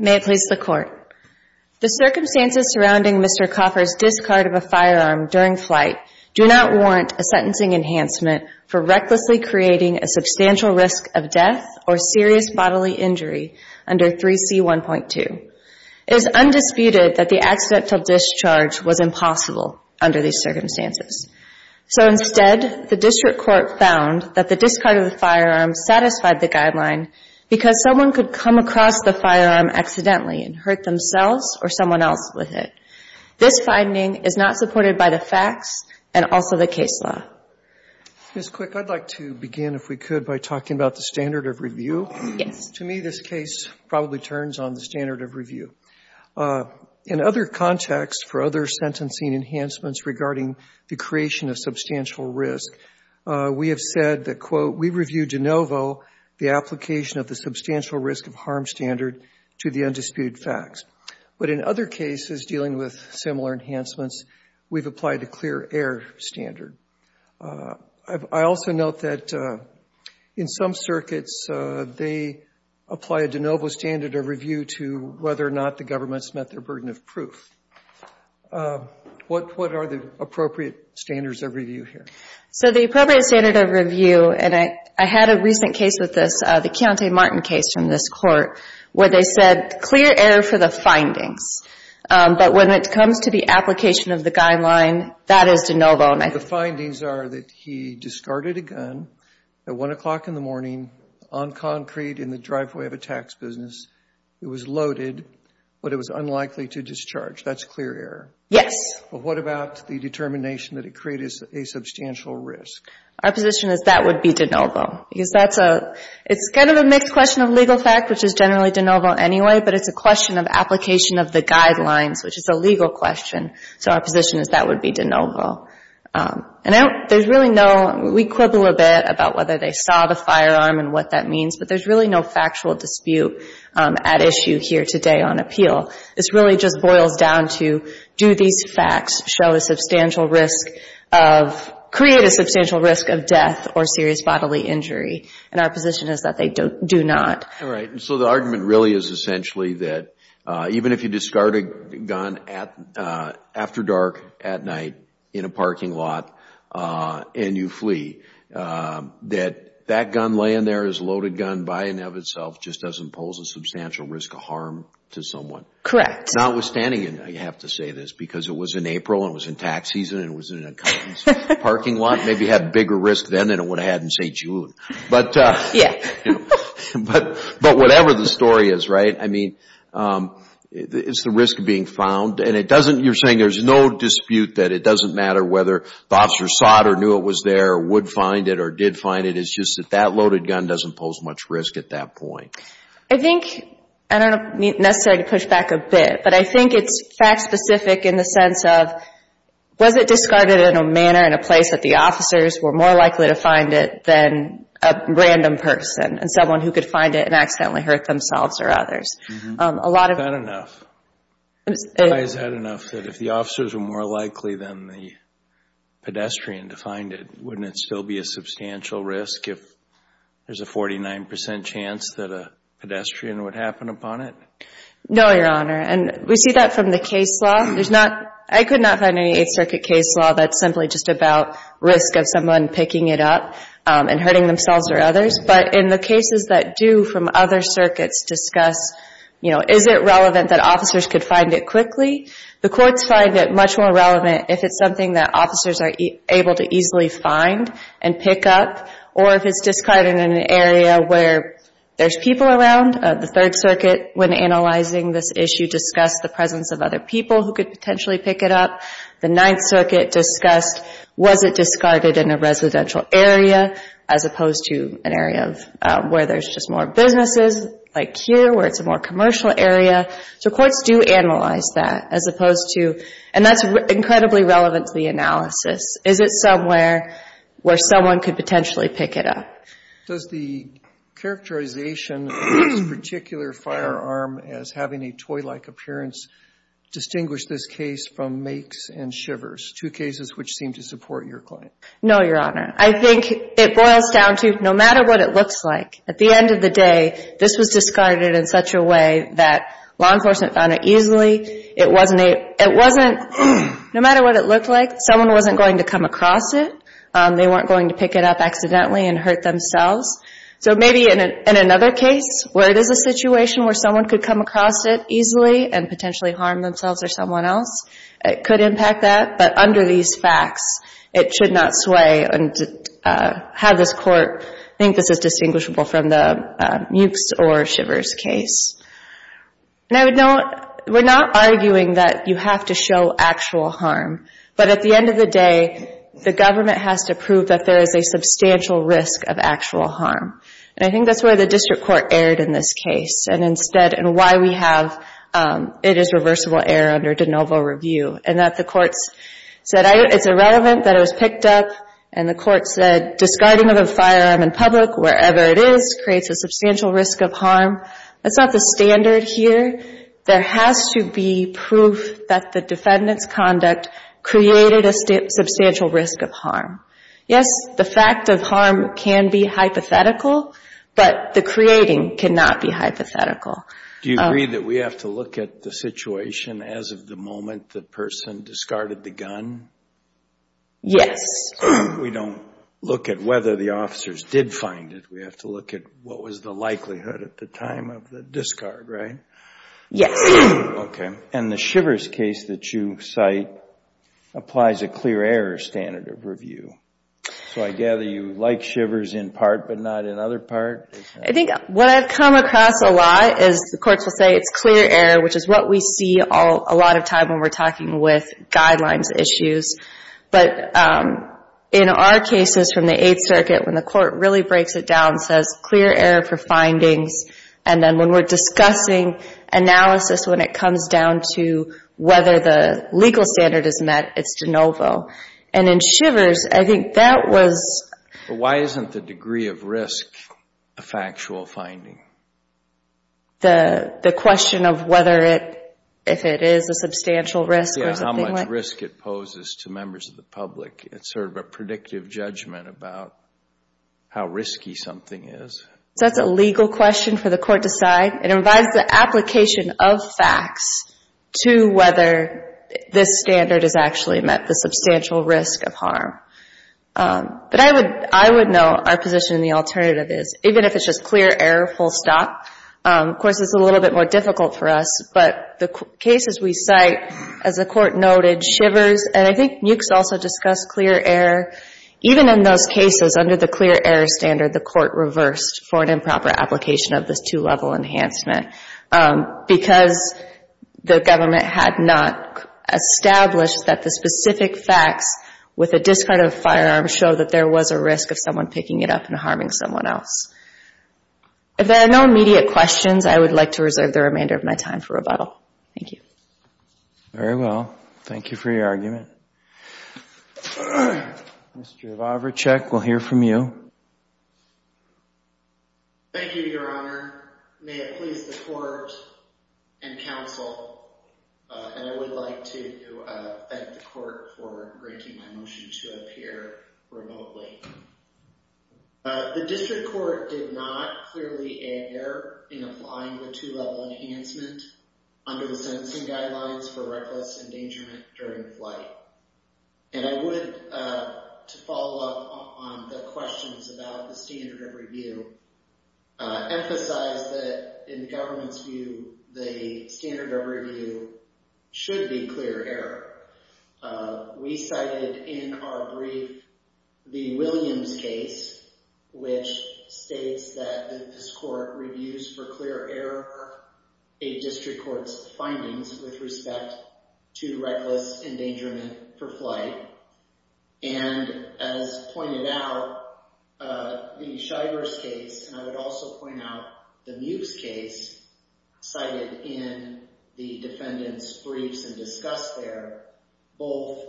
The circumstances surrounding Mr. Coffer's discard of a firearm during flight do not warrant a sentencing enhancement for recklessly creating a substantial risk of death or serious bodily injury under 3C1.2. It is undisputed that the accidental discharge was impossible under these circumstances. So instead, the District Court found that the discard of the firearm accidentally and hurt themselves or someone else with it. This finding is not supported by the facts and also the case law. Roberts Copperman, Jr. Ms. Quick, I would like to begin, if we could, by talking about the standard of review. Ms. Quick Yes. Roberts Copperman, Jr. To me, this case probably turns on the standard of review. In other contexts for other sentencing enhancements regarding the creation of substantial risk, we have said that, quote, we review de novo the application of the substantial risk of a firearm standard to the undisputed facts. But in other cases dealing with similar enhancements, we have applied a clear air standard. I also note that in some circuits, they apply a de novo standard of review to whether or not the government has met their burden of proof. What are the appropriate standards of review here? Ms. Quick So the appropriate standard of review, and I had a recent case with this, the Keontae Martin case from this Court, where they said clear air for the findings. But when it comes to the application of the guideline, that is de novo. Roberts Copperman, Jr. The findings are that he discarded a gun at 1 o'clock in the morning on concrete in the driveway of a tax business. It was loaded, but it was unlikely to discharge. That's clear air. Roberts Copperman, Jr. But what about the determination that it created a substantial risk? Ms. Quick Our position is that would be de novo. It's kind of a mixed question of legal fact, which is generally de novo anyway, but it's a question of application of the guidelines, which is a legal question. So our position is that would be de novo. We quibble a bit about whether they saw the firearm and what that means, but there's really no factual dispute at issue here today on appeal. It really just boils down to do these facts show a substantial risk of, create a substantial risk of death or serious bodily injury? And our position is that they do not. Roberts Copperman, Jr. All right. So the argument really is essentially that even if you discard a gun after dark, at night, in a parking lot, and you flee, that that gun laying there is a loaded gun by and of itself just doesn't pose a substantial risk of harm to someone? Notwithstanding, I have to say this, because it was in April and it was in tax season and it was in a company's parking lot, maybe it had bigger risk then than it would have had in, say, June. But whatever the story is, right? I mean, it's the risk of being found, and it doesn't, you're saying there's no dispute that it doesn't matter whether the officer saw it or knew it was there or would find it or did find it. It's just that that loaded gun doesn't pose much risk at that point. I think, I don't necessarily need to push back a bit, but I think it's fact-specific in the sense of, was it discarded in a manner, in a place, that the officers were more likely to find it than a random person and someone who could find it and accidentally hurt themselves or others? A lot of... Is that enough? Is that enough that if the officers were more likely than the pedestrian to find it, wouldn't it still be a substantial risk if there's a 49% chance that a pedestrian would happen upon it? No, Your Honor. And we see that from the case law. There's not, I could not find any Eighth Circuit case law that's simply just about risk of someone picking it up and hurting themselves or others. But in the cases that do from other circuits discuss, you know, is it relevant that officers could find it quickly? The courts find it much more relevant if it's something that officers are able to easily find and pick up, or if it's discarded in an area where there's people around. The Third Circuit, when analyzing this issue, discussed the presence of other people who could potentially pick it up. The Ninth Circuit discussed, was it discarded in a residential area as opposed to an area where there's just more businesses, like here, where it's a more commercial area? So courts do analyze that as opposed to, and that's incredibly relevant to the analysis. Is it somewhere where someone could potentially pick it up? Does the characterization of this particular firearm as having a toy-like appearance distinguish this case from makes and shivers, two cases which seem to support your claim? No, Your Honor. I think it boils down to, no matter what it looks like, at the end of the day, this was discarded in such a way that law enforcement found it easily. It wasn't, no matter what it looked like, someone wasn't going to come across it. They weren't going to pick it up accidentally and hurt themselves. So maybe in another case where it is a situation where someone could come across it easily and potentially harm themselves or someone else, it could impact that. But under these facts, it should not sway and have this Court think this is distinguishable from the mukes or shivers case. And I would note, we're not arguing that you have to show actual harm. But at the end of the day, the government has to prove that there is a substantial risk of actual harm. And I think that's where the district court erred in this case. And instead, and why we have it as reversible error under de novo review. And that the courts said it's irrelevant that it was picked up and the court said discarding of a firearm in public, wherever it is, creates a substantial risk of harm. That's not the standard here. There has to be proof that the defendant's conduct created a substantial risk of harm. Yes, the fact of harm can be hypothetical, but the creating cannot be hypothetical. Do you agree that we have to look at the situation as of the moment the person discarded the gun? Yes. We don't look at whether the officers did find it. We have to look at what was the likelihood at the time of the discard, right? Yes. Okay. And the shivers case that you cite applies a clear error standard of review. So I gather you like shivers in part, but not in other part? I think what I've come across a lot is the courts will say it's clear error, which is what we see a lot of time when we're talking with guidelines issues. But in our cases from the Eighth Circuit, when the court really breaks it down, it says clear error for findings. And then when we're discussing analysis, when it comes down to whether the legal standard is met, it's de novo. And in shivers, I think that was... Why isn't the degree of risk a factual finding? The question of whether it, if it is a substantial risk or something like... Yeah, how much risk it poses to members of the public. It's sort of a predictive judgment about how risky something is. So that's a legal question for the court to decide. It provides the application of facts to whether this standard is actually met, the substantial risk of harm. But I would know our position in the alternative is even if it's just clear error, full stop. Of course, it's a little bit more difficult for us, but the cases we cite, as the court noted, shivers. And I think Mewkes also discussed clear error. Even in those cases, under the clear error standard, the court reversed for an improper application of this two-level enhancement because the government had not established that the specific facts with a discard of firearms show that there was a risk of someone picking it up and harming someone else. If there are no immediate questions, I would like to reserve the remainder of my time for rebuttal. Thank you. Very well. Thank you for your argument. Mr. Vavracek, we'll hear from you. Thank you, Your Honor. May it please the court and counsel, and I would like to thank the The district court did not clearly err in applying the two-level enhancement under the sentencing guidelines for reckless endangerment during flight. And I would, to follow up on the questions about the standard of review, emphasize that in the government's view, the standard of review should be clear error. We cited in our brief the Williams case, which states that this court reviews for clear error a district court's findings with respect to reckless endangerment for flight. And as pointed out, the shivers case, and I would also point out the Mewkes case cited in the defendant's briefs and discussed there, both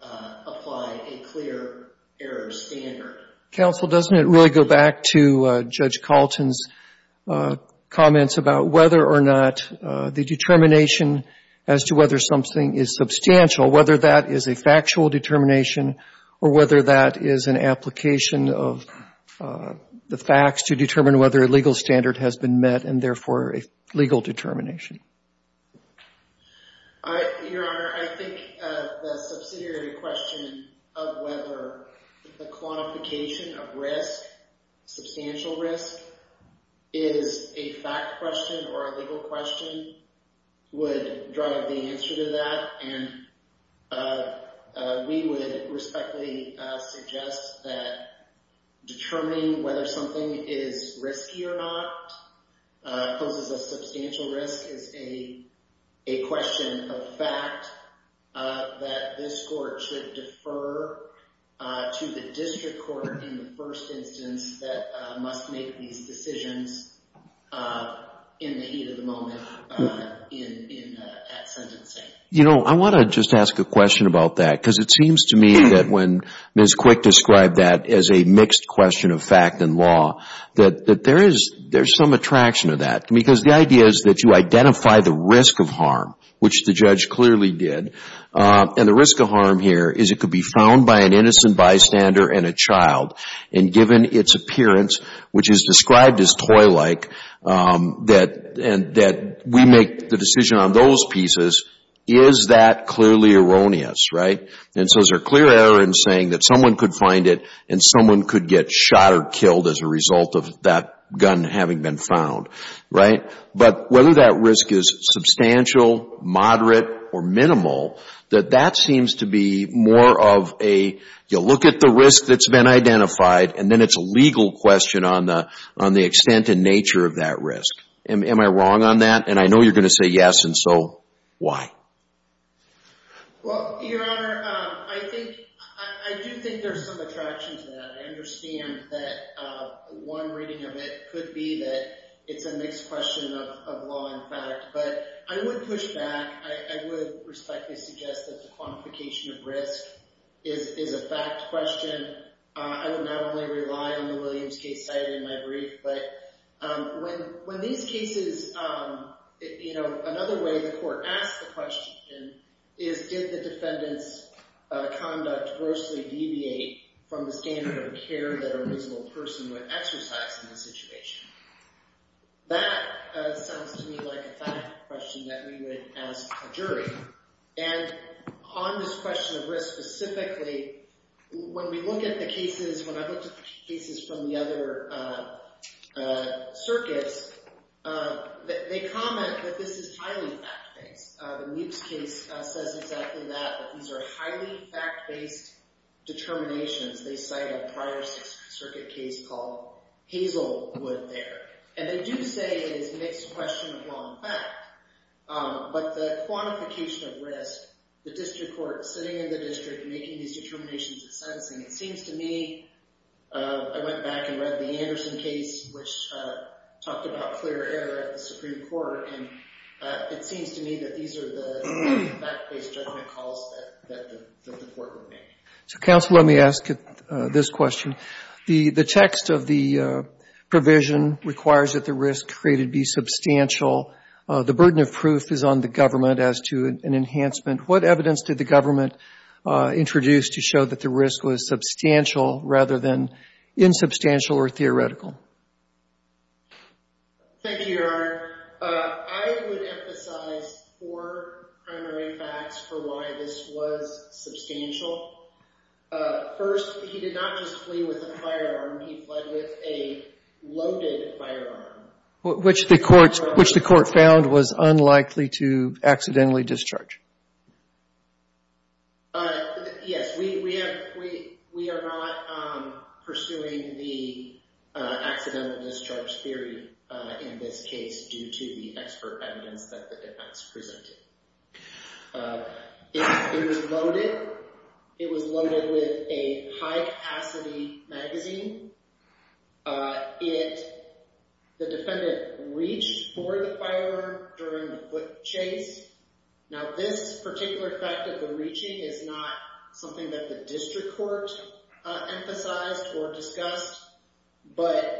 apply a clear error standard. Counsel, doesn't it really go back to Judge Kalten's comments about whether or not the determination as to whether something is substantial, whether that is a factual determination or whether that is an application of the facts to determine whether a legal standard has been met and therefore a legal determination? Your Honor, I think the subsidiary question of whether the quantification of risk, substantial risk, is a fact question or a legal question would drive the answer to that. And we would respectfully suggest that determining whether something is risky or not poses a substantial risk is a question of fact, that this court should defer to the district court in the first instance that must make these decisions in the heat of the moment at sentencing. I want to just ask a question about that because it seems to me that when Ms. Quick described that as a mixed question of fact and law, that there is some attraction to that. Because the idea is that you identify the risk of harm, which the judge clearly did, and the risk of harm here is it could be found by an innocent bystander and a child. And given its appearance, which is described as toy-like, that we make the decision on those pieces is that clearly erroneous, right? And so is there a clear error in saying that someone could find it and someone could get shot or killed as a result of that gun having been found, right? But whether that risk is substantial, moderate, or minimal, that that seems to be more of a, you look at the risk that's been identified and then it's a legal question on the extent and nature of that risk. Am I wrong on that? And I know you're going to say yes, and so why? Well, Your Honor, I think, I do think there's some attraction to that. I understand that one reading of it could be that it's a mixed question of law and fact. But I would push back. I would respectfully suggest that the quantification of risk is a fact question. I would not only rely on the Williams case cited in my brief, but when these cases, you know, another way the court asks the question is, did the defendant's conduct grossly deviate from the standard of care that a reasonable person would exercise in this situation? That sounds to me like a fact question that we would ask a jury. And on this question of risk specifically, when we look at the cases, when I look at the cases from the other circuits, they comment that this is highly fact-based. The Meeks case says exactly that, that these are highly fact-based determinations. They cite a prior circuit case called Hazelwood there. And they do say it is a mixed question of law and fact. But the quantification of risk, the district court sitting in the district making these determinations and sentencing, it seems to me, I went back and read the Anderson case, which talked about clear error at the Supreme Court. And it seems to me that these are the fact-based judgment calls that the court would make. So, counsel, let me ask this question. The text of the provision requires that the risk created be substantial. The burden of proof is on the government as to an enhancement. What evidence did the government introduce to show that the risk was substantial rather than insubstantial or theoretical? Thank you, Your Honor. I would emphasize four primary facts for why this was substantial. First, he did not just flee with a firearm. He fled with a loaded firearm. Which the court found was unlikely to accidentally discharge. Yes. We are not pursuing the accidental discharge theory in this case due to the expert evidence that the defense presented. It was loaded. It was loaded with a high-capacity magazine. The defendant reached for the firearm during the chase. Now, this particular fact of the reaching is not something that the district court emphasized or discussed. But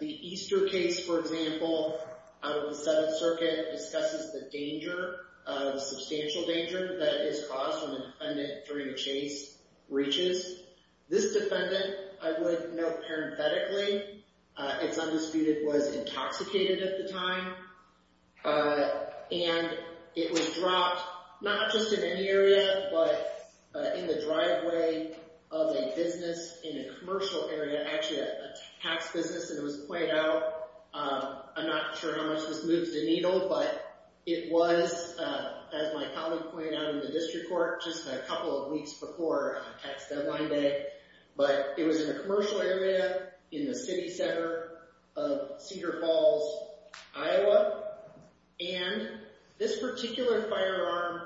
the Easter case, for example, out of the Seventh Circuit discusses the danger, the substantial danger that is caused when a defendant during a chase reaches. This defendant, I would note parenthetically, it's undisputed, was intoxicated at the time. And it was dropped not just in any area, but in the driveway of a business in a commercial area, actually a tax business, and it was pointed out. I'm not sure how much this moves the needle, but it was, as my colleague pointed out in the district court, just a couple of weeks before tax deadline day. But it was in a commercial area in the city center of Cedar Falls, Iowa. And this particular firearm,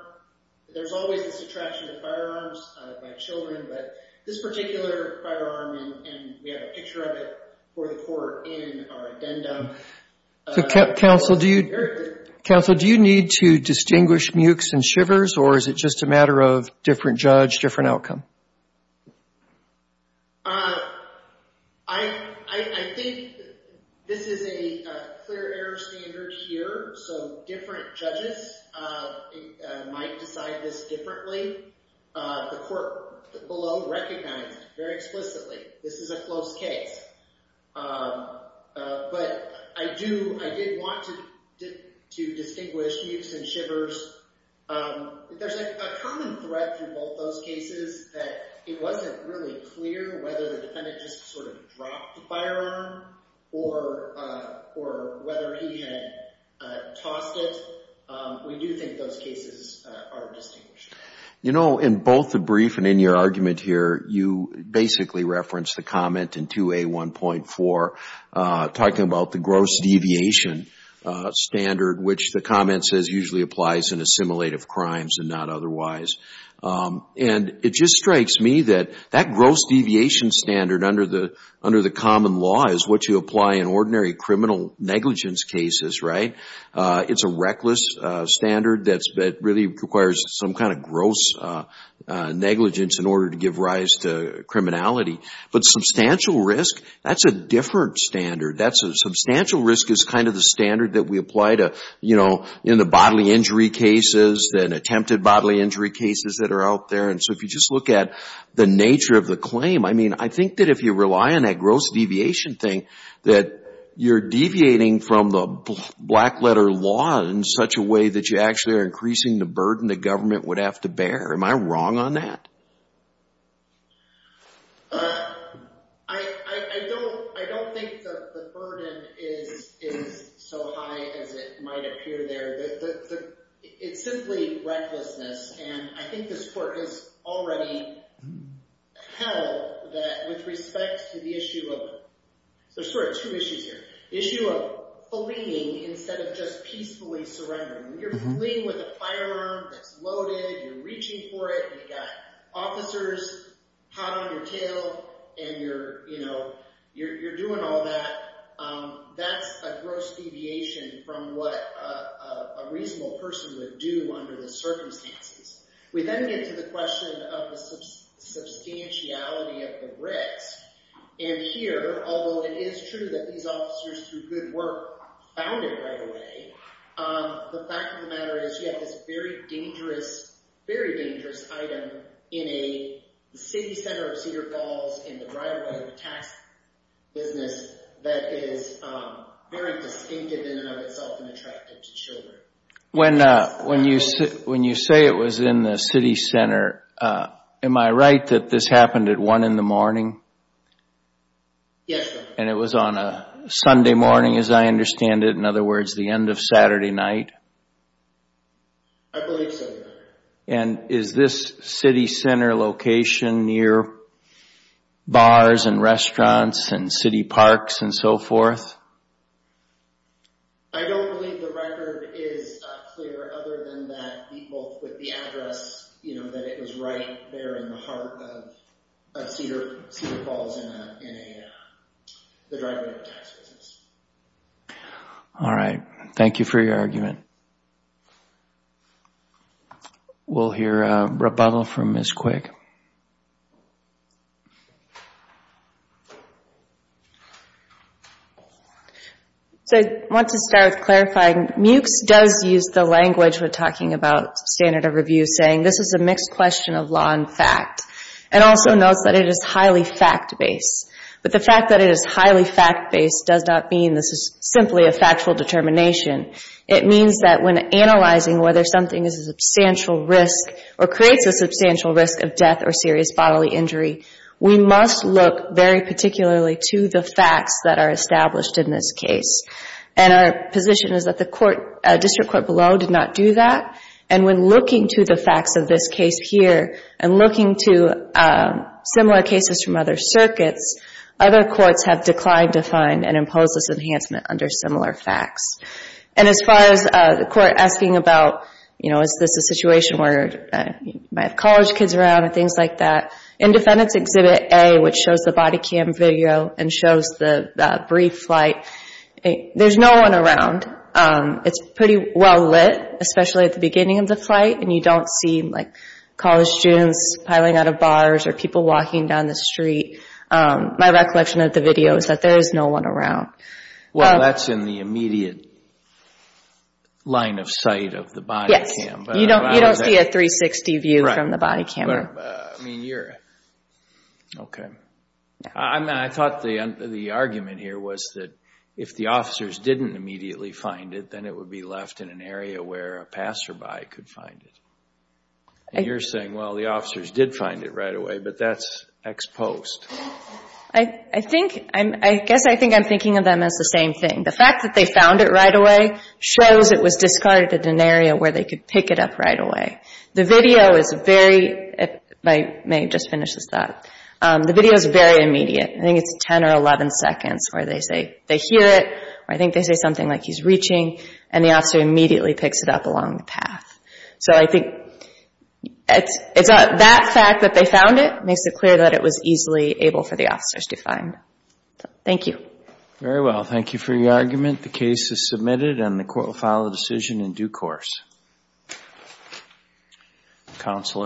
there's always this attraction to firearms by children, but this particular firearm, and we have a picture of it for the court in our addendum. Counsel, do you need to distinguish mukes and shivers, or is it just a matter of different judge, different outcome? I think this is a clear error standard here, so different judges might decide this differently. The court below recognized very explicitly this is a close case. But I do, I did want to distinguish mukes and shivers. There's a common thread through both those cases that it wasn't really clear whether the defendant just sort of dropped the firearm, or whether he had tossed it. So we do think those cases are distinguished. You know, in both the brief and in your argument here, you basically referenced the comment in 2A1.4, talking about the gross deviation standard, which the comment says usually applies in assimilative crimes and not otherwise. And it just strikes me that that gross deviation standard under the common law is what you apply in ordinary criminal negligence cases, right? It's a reckless standard that really requires some kind of gross negligence in order to give rise to criminality. But substantial risk, that's a different standard. Substantial risk is kind of the standard that we apply to, you know, in the bodily injury cases and attempted bodily injury cases that are out there. And so if you just look at the nature of the claim, I mean, I think that if you rely on that gross deviation thing, that you're deviating from the black letter law in such a way that you actually are increasing the burden the government would have to bear. Am I wrong on that? I don't think the burden is so high as it might appear there. It's simply recklessness. And I think this court has already held that with respect to the issue of, there's sort of two issues here, the issue of fleeing instead of just peacefully surrendering. When you're fleeing with a firearm that's loaded, you're reaching for it, and you've got officers hot on your tail, and you're, you know, you're doing all that, that's a reasonable person would do under the circumstances. We then get to the question of the substantiality of the risk. And here, although it is true that these officers through good work found it right away, the fact of the matter is you have this very dangerous, very dangerous item in a city center of Cedar When you say it was in the city center, am I right that this happened at one in the morning? Yes, sir. And it was on a Sunday morning as I understand it, in other words, the end of Saturday night? I believe so, Your Honor. And is this city center location near bars and restaurants and city parks and so forth? I don't believe the record is clear other than that the address, you know, that it was right there in the heart of Cedar Falls in the driveway of a tax business. All right. Thank you for your argument. We'll hear a rebuttal from Ms. Quick. So I want to start with clarifying. MUCS does use the language we're talking about standard of review saying this is a mixed question of law and fact. And also notes that it is highly fact-based. But the fact that it is highly fact-based does not mean this is simply a factual determination. It means that when analyzing whether something is a substantial risk or creates a substantial risk of death or serious bodily injury, we must look very particularly to the facts that are established in this case. And our position is that the district court below did not do that. And when looking to the facts of this case here and looking to similar cases from other circuits, other courts have declined to find and impose this enhancement under similar facts. And as far as the court asking about, you know, is this a situation where you might have college kids around or things like that, Independence Exhibit A, which shows the body cam video and shows the brief flight, there's no one around. It's pretty well lit, especially at the beginning of the flight, and you don't see, like, college students piling out of bars or people walking down the street. My recollection of the video is that there is no one around. Well, that's in the immediate line of sight of the body cam. You don't see a 360 view from the body cam. Okay. I thought the argument here was that if the officers didn't immediately find it, then it would be left in an area where a passerby could find it. And you're saying, well, the officers did find it right away, but that's ex post. I guess I think I'm thinking of them as the same thing. The fact that they found it right away shows it was discarded in an area where they could pick it up right away. The video is very immediate. I think it's 10 or 11 seconds where they hear it or I think they say something like, he's reaching, and the officer immediately picks it up along the path. So I think that fact that they found it makes it clear that it was easily able for the officers to find. Thank you. Very well. Thank you for your argument. The case is submitted and the court will file a decision in due course.